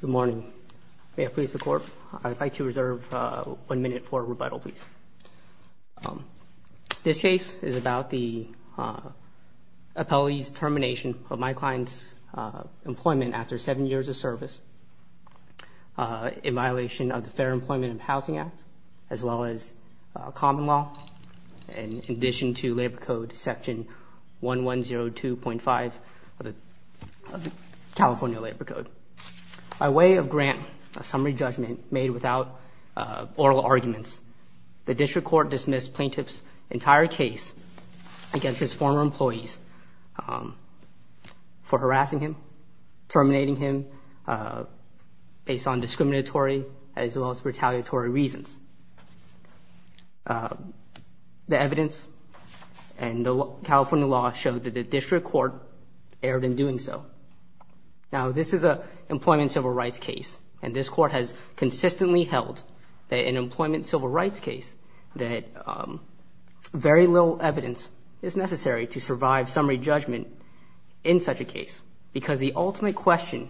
Good morning. May I please the court? I'd like to reserve one minute for rebuttal, please. This case is about the appellee's termination of my client's employment after seven years of service in violation of the Fair Employment and Housing Act, as well as common law, in addition to Labor Code section 1102.5 of the California Labor Code. By way of grant, a summary judgment made without oral arguments, the district court dismissed plaintiff's entire case against his former employees for harassing him, terminating him, based on discriminatory as well as retaliatory reasons. The evidence and the California law showed that the district court erred in doing so. Now, this is a employment civil rights case, and this court has consistently held that in an employment civil rights case, that very little evidence is necessary to survive summary judgment in such a case, because the ultimate question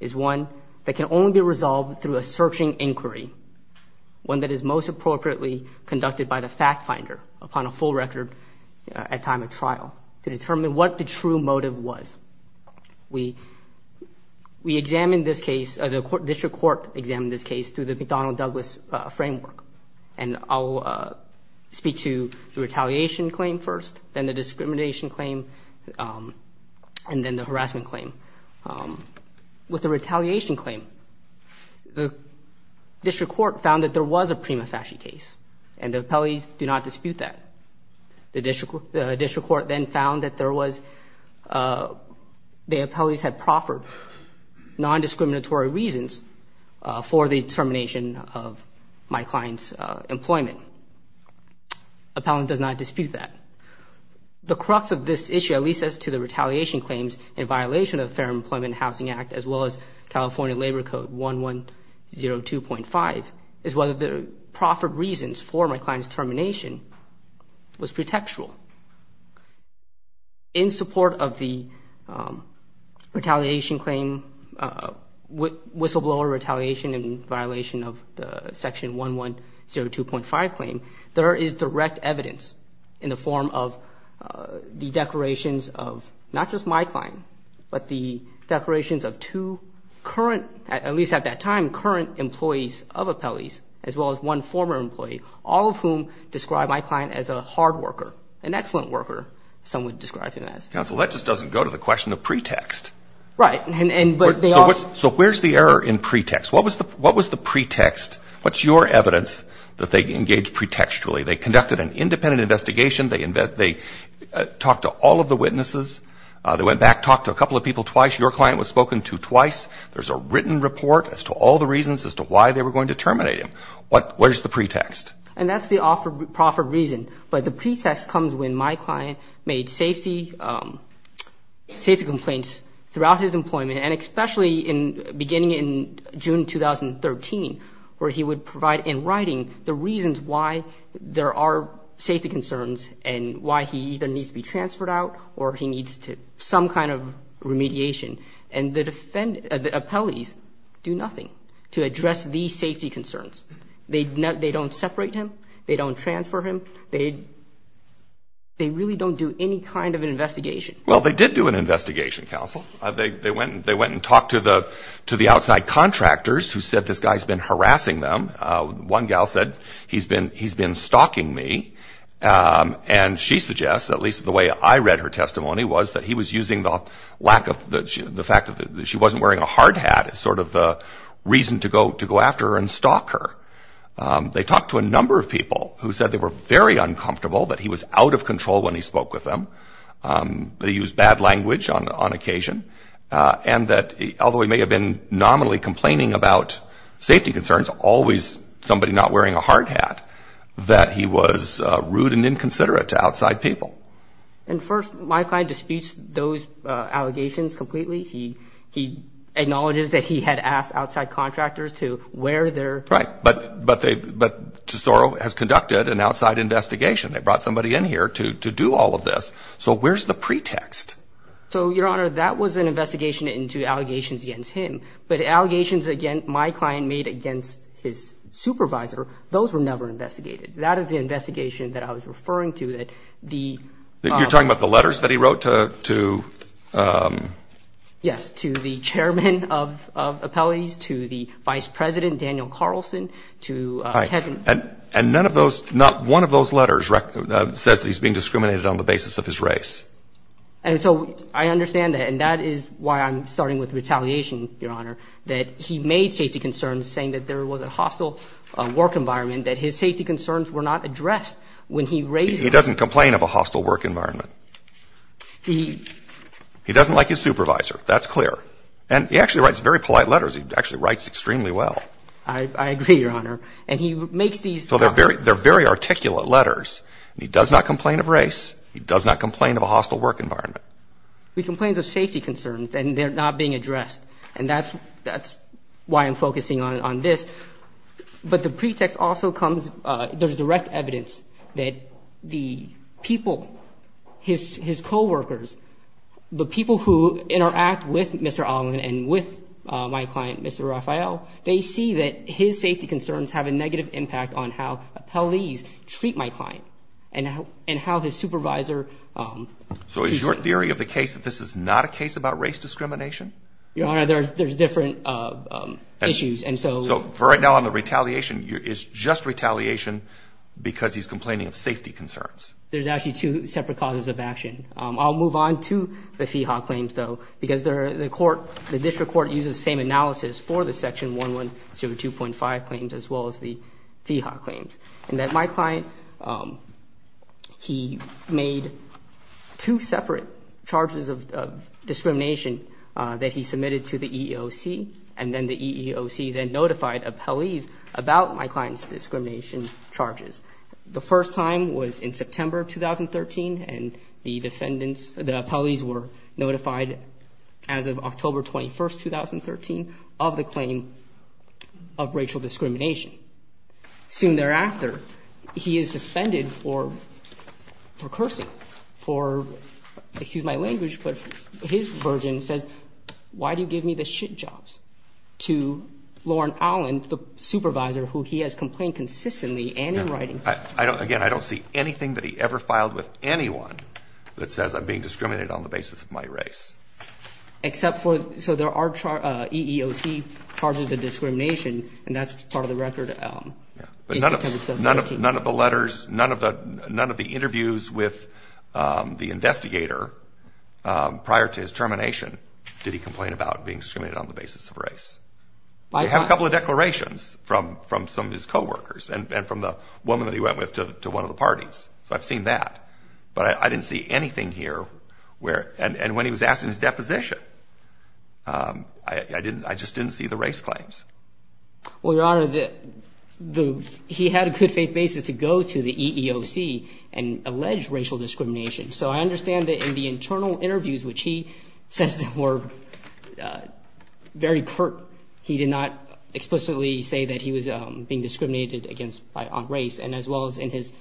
is one that can only be resolved through a searching inquiry, one that is most appropriately conducted by the fact finder upon a full record at time of trial to determine what the true motive was. We examined this case, the district court examined this case through the McDonnell-Douglas framework, and I'll speak to the retaliation claim first, then the discrimination claim, and then the harassment claim. With the retaliation claim, the district court found that there was a prima facie case, and the appellees do not dispute that. The district court then found that there was, the appellees had proffered non-discriminatory reasons for the termination of my client's employment. Appellant does not dispute that. The crux of this issue, at least as to the retaliation claims in violation of the Fair Employment and Housing Act, as well as California Labor Code 1102.5, is that the proffered reasons for my client's termination was pretextual. In support of the retaliation claim, whistleblower retaliation in violation of the section 1102.5 claim, there is direct evidence in the form of the declarations of not just my client, but the declarations of two current, at well as one former employee, all of whom describe my client as a hard worker, an excellent worker, some would describe him as. Counsel, that just doesn't go to the question of pretext. Right, and but they also... So where's the error in pretext? What was the pretext? What's your evidence that they engaged pretextually? They conducted an independent investigation. They talked to all of the witnesses. They went back, talked to a couple of people twice. Your client was spoken to twice. There's a written report as to all the reasons as to why they were going to terminate him. What was the pretext? And that's the offered proffered reason, but the pretext comes when my client made safety complaints throughout his employment, and especially in beginning in June 2013, where he would provide in writing the reasons why there are safety concerns, and why he either needs to be transferred out, or he needs to some kind of remediation. And the defend... the appellees do nothing to address these safety concerns. They don't separate him. They don't transfer him. They really don't do any kind of an investigation. Well, they did do an investigation, counsel. They went and talked to the outside contractors, who said this guy's been harassing them. One gal said, he's been stalking me, and she suggests, at least the way I that he was using the lack of... the fact that she wasn't wearing a hard hat is sort of the reason to go after her and stalk her. They talked to a number of people who said they were very uncomfortable, that he was out of control when he spoke with them, that he used bad language on occasion, and that although he may have been nominally complaining about safety concerns, always somebody not wearing a hard hat, that he was rude and inconsiderate to outside people. And first, my client disputes those allegations completely. He acknowledges that he had asked outside contractors to wear their... Right, but Tesoro has conducted an outside investigation. They brought somebody in here to do all of this. So where's the pretext? So, Your Honor, that was an investigation into allegations against him. But allegations, again, my client made against his supervisor, those were never investigated. That is the investigation that I was referring to, that the... You're talking about the letters that he wrote to... Yes, to the chairman of appellees, to the vice president, Daniel Carlson, to Kevin... And none of those... not one of those letters says that he's being discriminated on the basis of his race. And so I understand that, and that is why I'm starting with retaliation, Your Honor, that he made safety concerns, saying that there was a hostile work environment, that his safety concerns were not addressed when he raised... He doesn't complain of a hostile work environment. He... He doesn't like his supervisor. That's clear. And he actually writes very polite letters. He actually writes extremely well. I agree, Your Honor. And he makes these... So they're very articulate letters. He does not complain of race. He does not complain of a hostile work environment. He complains of safety concerns, and they're not being addressed. And that's why I'm saying that there's direct evidence that the people, his co-workers, the people who interact with Mr. Allen and with my client, Mr. Raphael, they see that his safety concerns have a negative impact on how appellees treat my client and how his supervisor... So is your theory of the case that this is not a case about race discrimination? Your Honor, there's different issues, and so... So for right now, on the retaliation, it's just retaliation because he's complaining of safety concerns. There's actually two separate causes of action. I'll move on to the FIHA claims, though, because the court, the district court, uses the same analysis for the Section 112.5 claims as well as the FIHA claims, and that my client, he made two separate charges of discrimination that he submitted to the EEOC, and then the EEOC then notified appellees about my client's discrimination charges. The first time was in September of 2013, and the defendants, the appellees were notified as of October 21st, 2013, of the claim of racial discrimination. Soon thereafter, he is suspended for cursing, for, excuse my language, but his version says, why do you give me the shit jobs, to Lauren Allen, the supervisor who he has complained consistently and in writing. Again, I don't see anything that he ever filed with anyone that says I'm being discriminated on the basis of my race. Except for, so there are EEOC charges of discrimination, and that's part of the record in September 2013. None of the letters, none of the interviews with the investigator prior to his termination did he complain about being discriminated on the basis of race. I have a couple of declarations from some of his co-workers and from the woman that he went with to one of the parties, so I've seen that, but I didn't see anything here where, and when he was asked in his deposition, I just didn't see the race claims. Well, Your Honor, he had a good faith basis to go to the EEOC and allege racial discrimination, so I understand that in the internal interviews, which he says were very curt, he did not explicitly say that he was being discriminated against on race, and as well as in his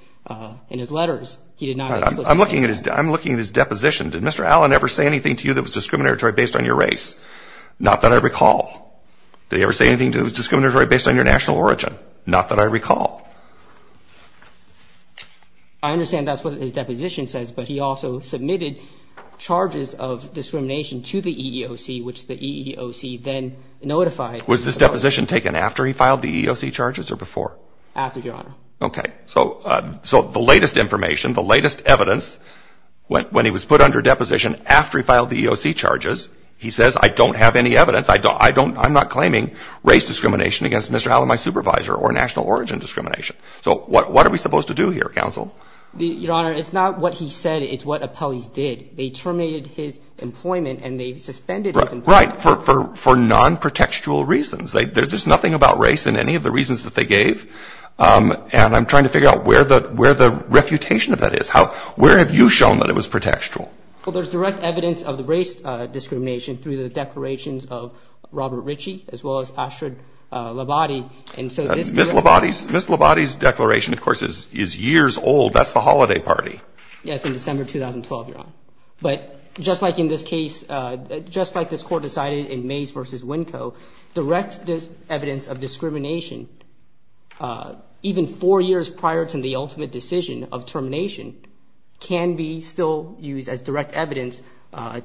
letters, he did not explicitly say that. I'm looking at his deposition. Did Mr. Allen ever say anything to you that was discriminatory based on your race? Not that I recall. Did he ever say anything to you that was discriminatory based on your national origin? Not that I recall. I understand that's what his deposition says, but he also submitted charges of discrimination to the EEOC, which the EEOC then notified. Was this deposition taken after he filed the EEOC charges or before? After, Your Honor. Okay. So the latest information, the latest evidence, when he was put under deposition after he I don't have any evidence. I don't – I'm not claiming race discrimination against Mr. Allen, my supervisor, or national origin discrimination. So what are we supposed to do here, counsel? Your Honor, it's not what he said. It's what appellees did. They terminated his employment and they suspended his employment. Right. For nonprotextual reasons. There's nothing about race in any of the reasons that they gave, and I'm trying to figure out where the refutation of that is. Where have you shown that it was protextual? Well, there's direct evidence of the race discrimination through the declarations of Robert Ritchie, as well as Ashrod Labate. And so this – Ms. Labate's declaration, of course, is years old. That's the holiday party. Yes, in December 2012, Your Honor. But just like in this case, just like this Court decided in Mays v. Winco, direct evidence of discrimination, even four years prior to the ultimate decision of termination, can be still used as direct evidence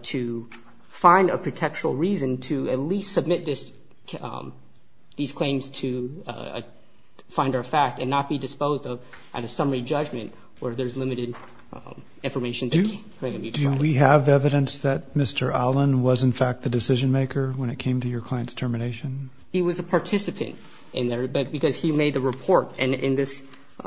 to find a protextual reason to at least submit this – these claims to finder of fact and not be disposed of at a summary judgment where there's limited information that can be provided. Do we have evidence that Mr. Allen was, in fact, the decision maker when it came to your client's termination? He was a participant in there, but – because he made the report. And in this –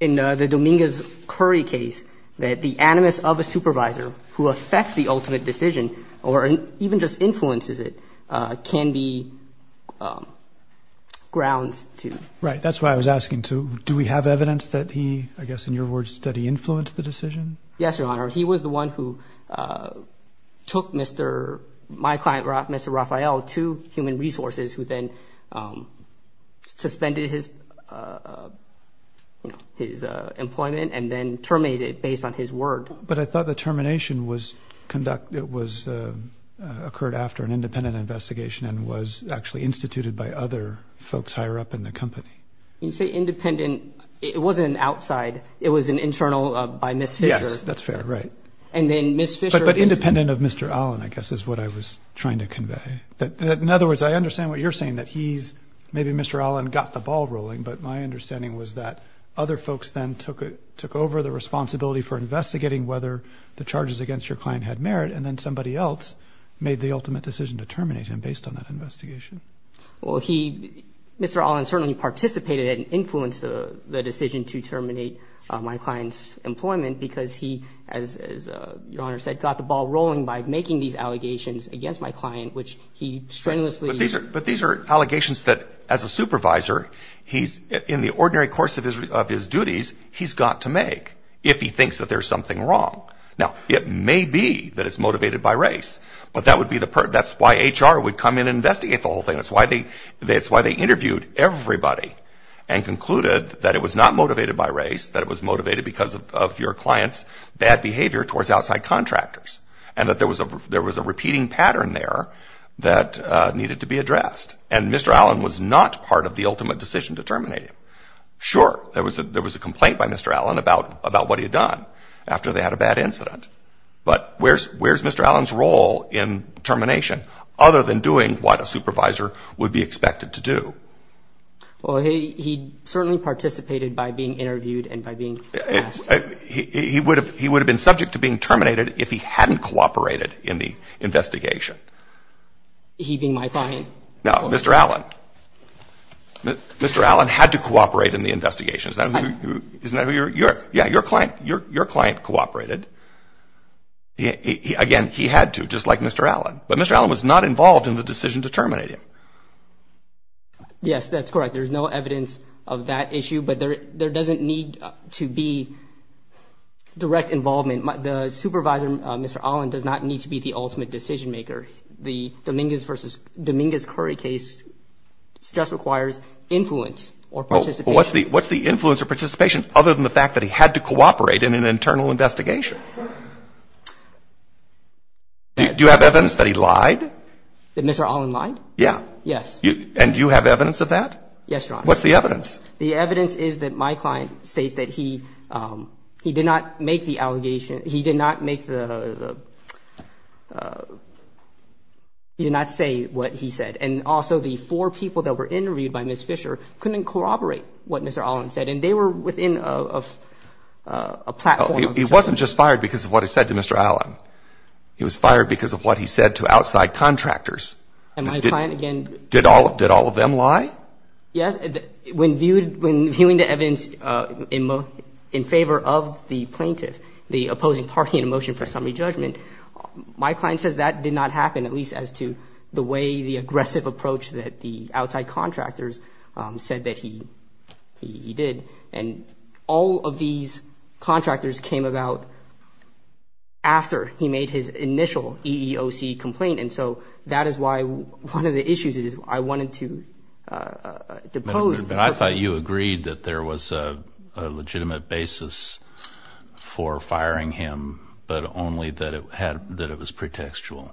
in the Dominguez-Curry case, the animus of a supervisor who affects the ultimate decision or even just influences it can be grounds to – Right. That's why I was asking, too. Do we have evidence that he, I guess in your words, that he influenced the decision? Yes, Your Honor. He was the one who took Mr. – my client, Mr. Rafael, to Human Resources who then suspended his – you know, his employment and then terminated it based on his word. But I thought the termination was conducted – it was – occurred after an independent investigation and was actually instituted by other folks higher up in the company. You say independent. It wasn't an outside. It was an internal by Ms. Fisher. Yes. That's fair. Right. And then Ms. Fisher – But independent of Mr. Allen, I guess, is what I was trying to convey. In other words, I understand what you're saying, that he's – maybe Mr. Allen got the ball rolling, but my understanding was that other folks then took over the responsibility for investigating whether the charges against your client had merit and then somebody else made the ultimate decision to terminate him based on that investigation. Well, he – Mr. Allen certainly participated and influenced the decision to terminate my client as he, as Your Honor said, got the ball rolling by making these allegations against my client, which he strenuously – But these are – but these are allegations that, as a supervisor, he's – in the ordinary course of his duties, he's got to make if he thinks that there's something wrong. Now, it may be that it's motivated by race, but that would be the – that's why HR would come in and investigate the whole thing. That's why they – that's why they interviewed everybody and concluded that it was not motivated by race, that it was motivated because of your client's bad behavior towards outside contractors and that there was a – there was a repeating pattern there that needed to be addressed. And Mr. Allen was not part of the ultimate decision to terminate him. Sure, there was a – there was a complaint by Mr. Allen about – about what he had done after they had a bad incident, but where's – where's Mr. Allen's role in termination other than doing what a supervisor would be expected to do? Well, he – he certainly participated by being interviewed and by being asked. He would have – he would have been subject to being terminated if he hadn't cooperated in the investigation. He being my client? No, Mr. Allen. Mr. Allen had to cooperate in the investigation. Isn't that who – isn't that who your – yeah, your client – your client cooperated. Again, he had to, just like Mr. Allen. But Mr. Allen was not involved in the decision to terminate him. Yes, that's correct. There's no evidence of that issue, but there – there doesn't need to be direct involvement. The supervisor, Mr. Allen, does not need to be the ultimate decision maker. The Dominguez versus – Dominguez-Curry case just requires influence or participation. Well, what's the – what's the influence or participation other than the fact that he had to cooperate in an internal investigation? Do you have evidence that he lied? That Mr. Allen lied? Yeah. Yes. And you have evidence of that? Yes, Your Honor. What's the evidence? The evidence is that my client states that he – he did not make the allegation – he did not make the – he did not say what he said. And also, the four people that were interviewed by Ms. Fisher couldn't corroborate what Mr. Allen said. And they were within a – a platform of – He wasn't just fired because of what he said to Mr. Allen. He was fired because of what he said to outside contractors. And my client, again – Did all – did all of them lie? Yes. When viewed – when viewing the evidence in favor of the plaintiff, the opposing party in a motion for summary judgment, my client says that did not happen, at least as to the way the aggressive approach that the outside contractors said that he – he did. And all of these contractors came about after he made his initial EEOC complaint. And so that is why one of the issues is I wanted to depose the person. But I thought you agreed that there was a legitimate basis for firing him, but only that it had – that it was pretextual.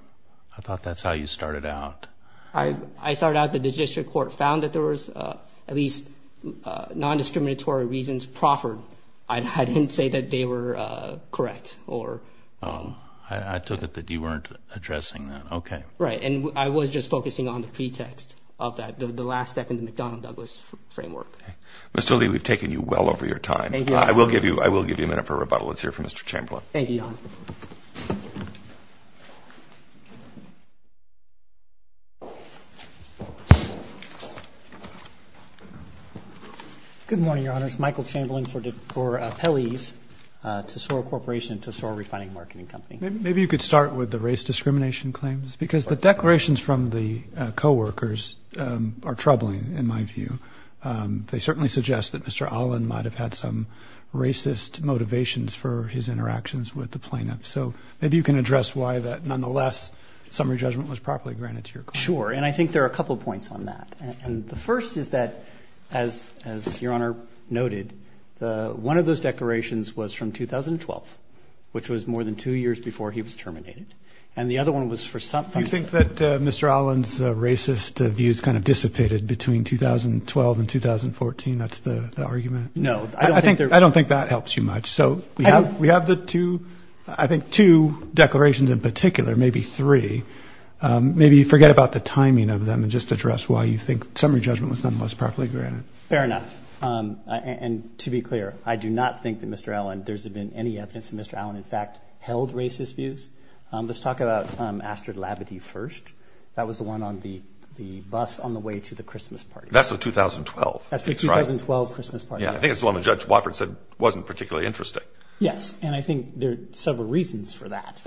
I thought that's how you started out. I – I started out that the district court found that there was at least non-discriminatory reasons proffered. I didn't say that they were correct or – I took it that you weren't addressing that. Okay. Right. And I was just focusing on the pretext of that, the last step in the McDonnell-Douglas framework. Mr. Lee, we've taken you well over your time. Thank you, Your Honor. I will give you – I will give you a minute for rebuttal. Let's hear from Mr. Chamberlain. Thank you, Your Honor. Good morning, Your Honors. Michael Chamberlain for Pelley's Tesoro Corporation, Tesoro Refining Marketing Company. Maybe you could start with the race discrimination claims because the declarations from the co-workers are troubling in my view. They certainly suggest that Mr. Allen might have had some racist motivations for his interactions with the plaintiffs. So maybe you can address why that nonetheless summary judgment was properly granted to your And I think there are a couple of points on that. And the first is that, as Your Honor noted, one of those declarations was from 2012, which was more than two years before he was terminated. And the other one was for – Do you think that Mr. Allen's racist views kind of dissipated between 2012 and 2014? That's the argument? No. I don't think they're – I don't think that helps you much. So we have the two – I think two declarations in particular, maybe three. Maybe forget about the timing of them and just address why you think summary judgment was nonetheless properly granted. Fair enough. And to be clear, I do not think that Mr. Allen – there's been any evidence that Mr. Allen in fact held racist views. Let's talk about Astrid Labadee first. That was the one on the bus on the way to the Christmas party. That's the 2012. That's the 2012 Christmas party. Yeah. I think it's the one that Judge Watford said wasn't particularly interesting. Yes. And I think there are several reasons for that.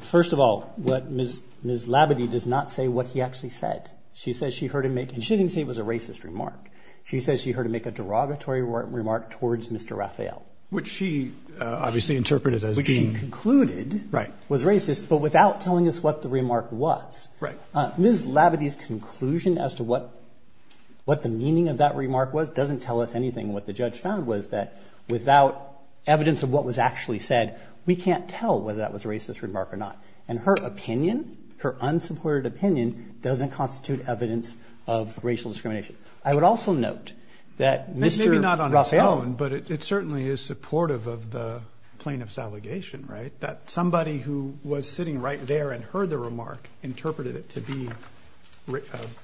First of all, Ms. Labadee does not say what he actually said. She says she heard him make – and she didn't say it was a racist remark. She says she heard him make a derogatory remark towards Mr. Raphael. Which she obviously interpreted as being – Which she concluded was racist, but without telling us what the remark was. Right. Ms. Labadee's conclusion as to what the meaning of that remark was doesn't tell us anything. What the judge found was that without evidence of what was actually said, we can't tell whether that was a racist remark or not. And her opinion, her unsupported opinion, doesn't constitute evidence of racial discrimination. I would also note that Mr. Raphael – Maybe not on its own, but it certainly is supportive of the plaintiff's allegation, right? That somebody who was sitting right there and heard the remark interpreted it to be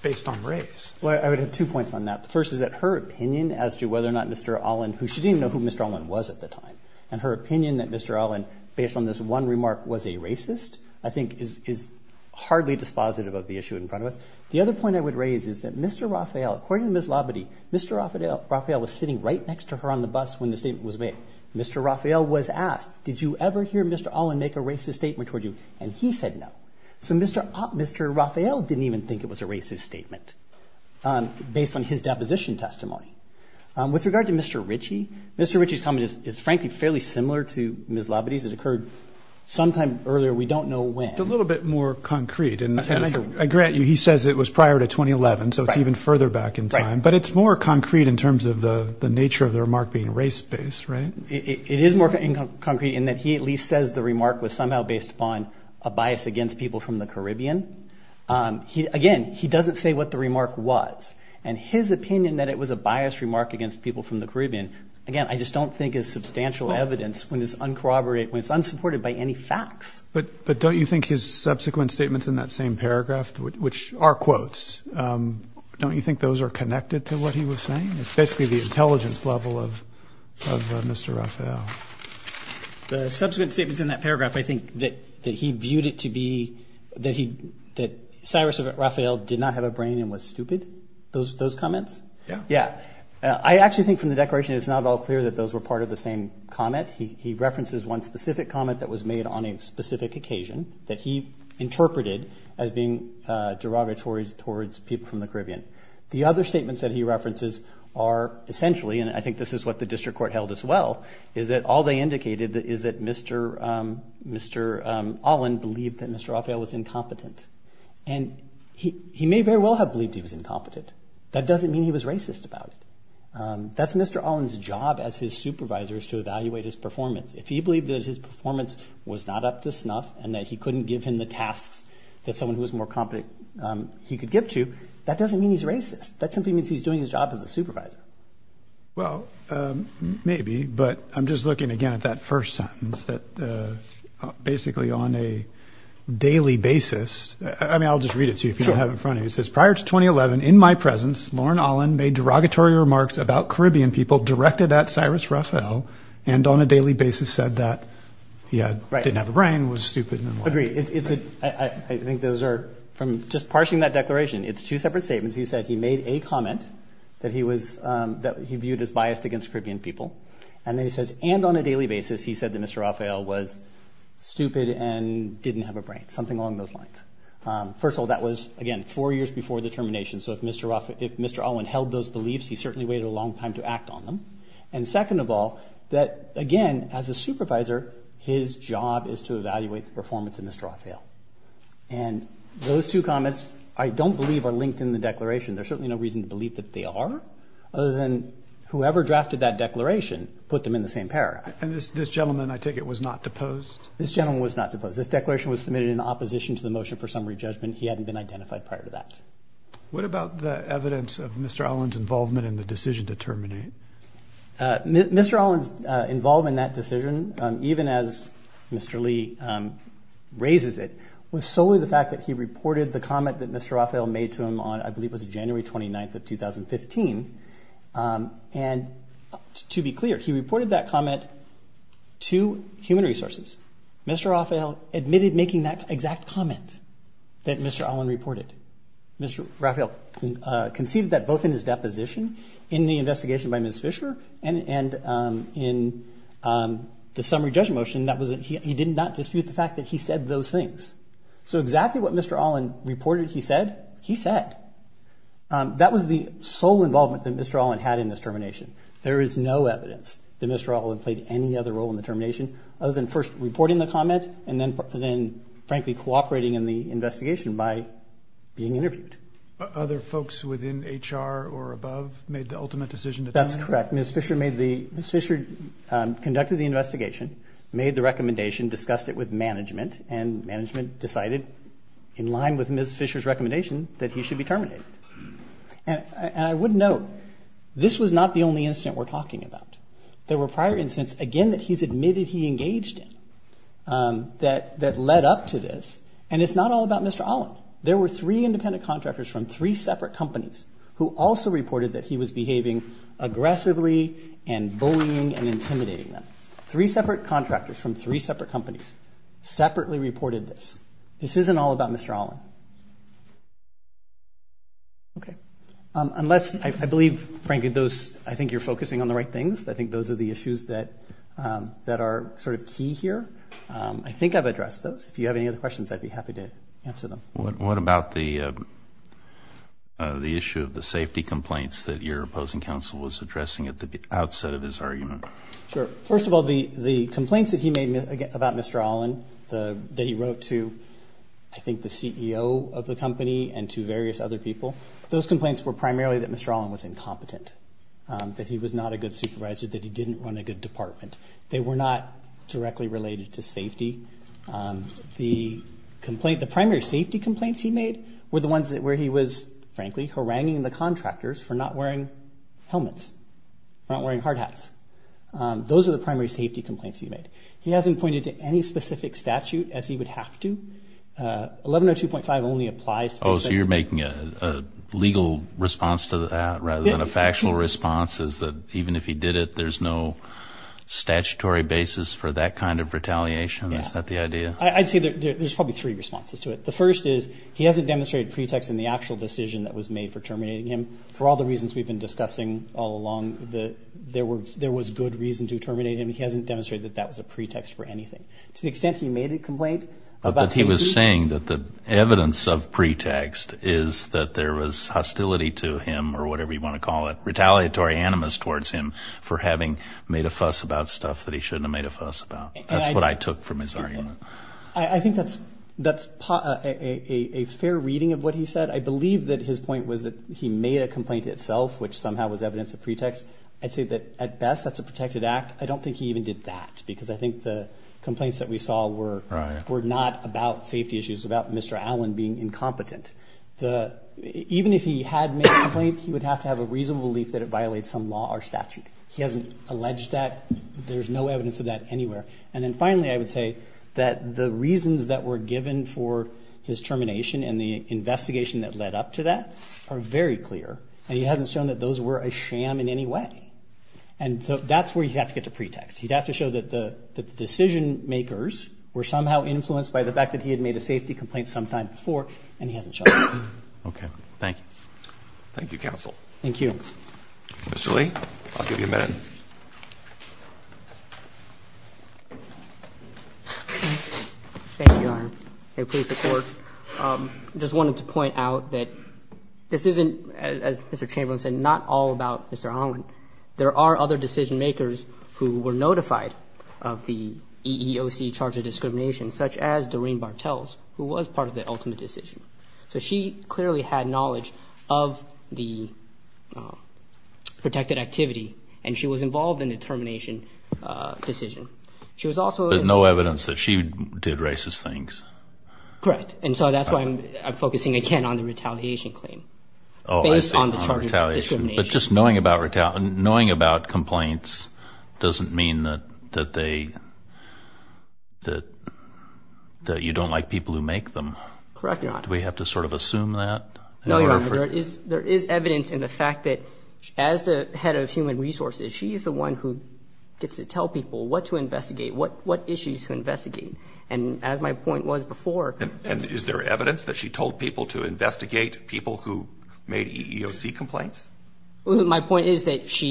based on race. Well, I would have two points on that. The first is that her opinion as to whether or not Mr. Olin – who, she didn't even know who Mr. Olin was at the time. And her opinion that Mr. Olin, based on this one remark, was a racist, I think is hardly dispositive of the issue in front of us. The other point I would raise is that Mr. Raphael – according to Ms. Labadee, Mr. Raphael was sitting right next to her on the bus when the statement was made. Mr. Raphael was asked, did you ever hear Mr. Olin make a racist statement toward you? And he said no. So Mr. Raphael didn't even think it was a racist statement based on his deposition testimony. With regard to Mr. Ritchie, Mr. Ritchie's comment is, frankly, fairly similar to Ms. Labadee's. It occurred sometime earlier. We don't know when. It's a little bit more concrete. And I grant you, he says it was prior to 2011, so it's even further back in time. But it's more concrete in terms of the nature of the remark being race-based, right? It is more concrete in that he at least says the remark was somehow based upon a bias against people from the Caribbean. Again, he doesn't say what the remark was. And his opinion that it was a bias remark against people from the Caribbean, again, I just don't think is substantial evidence when it's uncorroborated, when it's unsupported by any facts. But don't you think his subsequent statements in that same paragraph, which are quotes, don't you think those are connected to what he was saying? It's basically the intelligence level of Mr. Raphael. The subsequent statements in that paragraph, I think that he viewed it to be that Cyrus Raphael did not have a brain and was stupid, those comments? Yeah. Yeah. I actually think from the declaration, it's not at all clear that those were part of the same comment. He references one specific comment that was made on a specific occasion that he interpreted as being derogatories towards people from the Caribbean. The other statements that he references are essentially, and I think this is what the district court held as well, is that all they indicated is that Mr. Olin believed that Mr. Raphael was incompetent. And he may very well have believed he was incompetent. That doesn't mean he was racist about it. That's Mr. Olin's job as his supervisor is to evaluate his performance. If he believed that his performance was not up to snuff and that he couldn't give him the tasks that someone who was more competent he could give to, that doesn't mean he's racist. That simply means he's doing his job as a supervisor. Well, maybe, but I'm just looking again at that first sentence that basically on a daily basis, I mean, I'll just read it to you if you don't have it in front of you. It says, prior to 2011, in my presence, Lorne Olin made derogatory remarks about Caribbean people directed at Cyrus Raphael and on a daily basis said that he didn't have a brain, was stupid, and then left. Agreed. I think those are, from just parsing that declaration, it's two separate statements. He said he made a comment that he viewed as biased against Caribbean people. And then he says, and on a daily basis, he said that Mr. Raphael was stupid and didn't have a brain. Something along those lines. First of all, that was, again, four years before the termination, so if Mr. Olin held those beliefs, he certainly waited a long time to act on them. And second of all, that again, as a supervisor, his job is to evaluate the performance of Mr. Raphael. And those two comments, I don't believe, are linked in the declaration. There's certainly no reason to believe that they are, other than whoever drafted that declaration put them in the same paragraph. And this gentleman, I take it, was not deposed? This gentleman was not deposed. This declaration was submitted in opposition to the motion for summary judgment. He hadn't been identified prior to that. What about the evidence of Mr. Olin's involvement in the decision to terminate? Mr. Olin's involvement in that decision, even as Mr. Lee raises it, was solely the fact that he reported the comment that Mr. Raphael made to him on, I believe it was January 29th of 2015. And to be clear, he reported that comment to Human Resources. Mr. Raphael admitted making that exact comment that Mr. Olin reported. Mr. Raphael conceded that both in his deposition, in the investigation by Ms. Fisher, and in the summary judgment motion, he did not dispute the fact that he said those things. So exactly what Mr. Olin reported he said, he said. That was the sole involvement that Mr. Olin had in this termination. There is no evidence that Mr. Olin played any other role in the termination, other than reporting the comment, and then frankly cooperating in the investigation by being interviewed. Other folks within HR or above made the ultimate decision to terminate? That's correct. Ms. Fisher made the, Ms. Fisher conducted the investigation, made the recommendation, discussed it with management, and management decided in line with Ms. Fisher's recommendation that he should be terminated. And I would note, this was not the only incident we're talking about. There were prior incidents, again, that he's admitted he engaged in, that led up to this, and it's not all about Mr. Olin. There were three independent contractors from three separate companies who also reported that he was behaving aggressively and bullying and intimidating them. Three separate contractors from three separate companies separately reported this. This isn't all about Mr. Olin. Okay. Unless, I believe, frankly, those, I think you're focusing on the right things. I think those are the issues that are sort of key here. I think I've addressed those. If you have any other questions, I'd be happy to answer them. What about the issue of the safety complaints that your opposing counsel was addressing at the outset of his argument? Sure. First of all, the complaints that he made about Mr. Olin that he wrote to, I think, the CEO of the company and to various other people, those complaints were primarily that Mr. Olin was incompetent, that he was not a good supervisor, that he didn't run a good department. They were not directly related to safety. The primary safety complaints he made were the ones where he was, frankly, haranguing the contractors for not wearing helmets, not wearing hard hats. Those are the primary safety complaints he made. He hasn't pointed to any specific statute, as he would have to. 1102.5 only applies to those that— Oh, so you're making a legal response to that rather than a factual response, is that even if he did it, there's no statutory basis for that kind of retaliation? Yeah. Is that the idea? I'd say there's probably three responses to it. The first is he hasn't demonstrated pretext in the actual decision that was made for terminating him. For all the reasons we've been discussing all along, there was good reason to terminate him. He hasn't demonstrated that that was a pretext for anything. To the extent he made a complaint about safety— He was saying that the evidence of pretext is that there was hostility to him, or whatever you want to call it, retaliatory animus towards him for having made a fuss about stuff that he shouldn't have made a fuss about. That's what I took from his argument. I think that's a fair reading of what he said. I believe that his point was that he made a complaint itself, which somehow was evidence of pretext. I'd say that, at best, that's a protected act. I don't think he even did that, because I think the complaints that we saw were not about safety issues, about Mr. Allen being incompetent. Even if he had made a complaint, he would have to have a reasonable belief that it violates some law or statute. He hasn't alleged that. There's no evidence of that anywhere. Finally, I would say that the reasons that were given for his termination and the investigation that led up to that are very clear. He hasn't shown that those were a sham in any way. That's where you have to get to pretext. You'd have to show that the decision-makers were somehow influenced by the fact that he had made a safety complaint sometime before, and he hasn't shown that. Okay. Thank you. Thank you, counsel. Thank you. Mr. Lee, I'll give you a minute. Thank you, Your Honor. I'm from the Police Department. I just wanted to point out that this isn't, as Mr. Chamberlain said, not all about Mr. There are other decision-makers who were notified of the EEOC charge of discrimination, such as Doreen Bartels, who was part of the ultimate decision. So she clearly had knowledge of the protected activity, and she was involved in the termination decision. She was also... There's no evidence that she did racist things. Correct. And so that's why I'm focusing again on the retaliation claim, based on the charges of discrimination. But just knowing about complaints doesn't mean that you don't like people who make them. Correct, Your Honor. Do we have to sort of assume that? No, Your Honor. There is evidence in the fact that, as the head of Human Resources, she's the one who gets to tell people what to investigate, what issues to investigate. And as my point was before... And is there evidence that she told people to investigate people who made EEOC complaints? My point is that she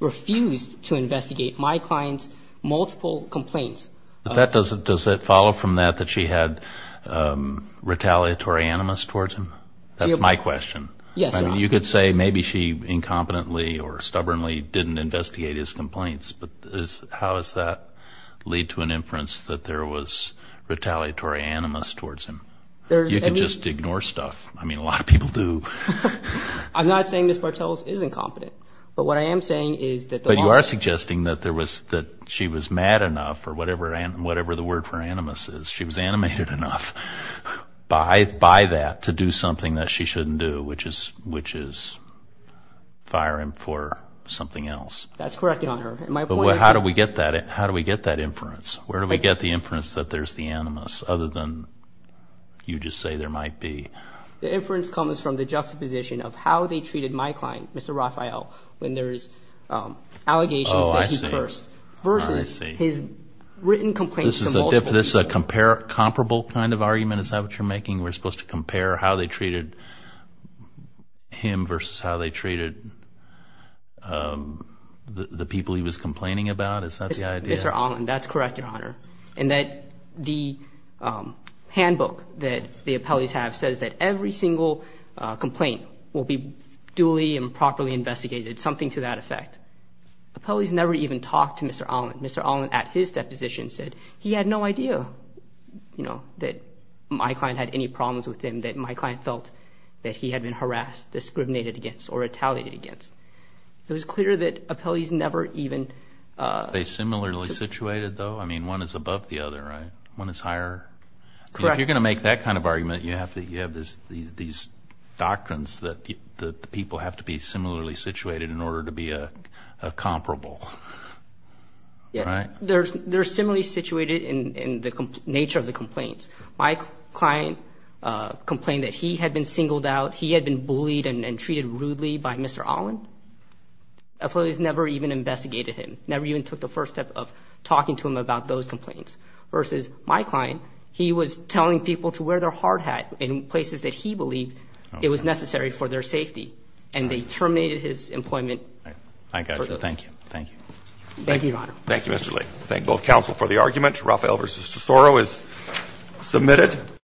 refused to investigate my client's multiple complaints. That doesn't... Does that follow from that, that she had retaliatory animus towards him? That's my question. Yes, Your Honor. You could say maybe she incompetently or stubbornly didn't investigate his complaints, but how does that lead to an inference that there was retaliatory animus towards him? There's... You could just ignore stuff. I mean, a lot of people do. I'm not saying Ms. Bartels is incompetent, but what I am saying is that the... But you are suggesting that she was mad enough, or whatever the word for animus is, she was animated enough by that to do something that she shouldn't do, which is fire him for something else. That's correct, Your Honor. My point is... But how do we get that inference? Where do we get the inference that there's the animus, other than you just say there might be... The inference comes from the juxtaposition of how they treated my client, Mr. Rafael, when there's allegations that he cursed, versus his written complaints to multiple people. This is a comparable kind of argument? Is that what you're making? We're supposed to compare how they treated him versus how they treated the people he was complaining about? Is that the idea? Mr. Allin, that's correct, Your Honor. And that the handbook that the appellees have says that every single complaint will be duly and properly investigated, something to that effect. Appellees never even talked to Mr. Allin. Mr. Allin, at his deposition, said he had no idea that my client had any problems with him, that my client felt that he had been harassed, discriminated against, or retaliated against. It was clear that appellees never even... Are they similarly situated, though? I mean, one is above the other, right? One is higher? Correct. If you're going to make that kind of argument, you have to... You have these doctrines that the people have to be similarly situated in order to be comparable. Right? Yeah. They're similarly situated in the nature of the complaints. My client complained that he had been singled out, he had been bullied and treated rudely by Mr. Allin. Appellees never even investigated him, never even took the first step of talking to him about those complaints, versus my client, he was telling people to wear their hard hat in places that he believed it was necessary for their safety, and they terminated his employment for those. I got you. Thank you. Thank you. Thank you, Your Honor. Thank you, Mr. Lee. Thank both counsel for the argument. Raphael v. Tesoro is submitted.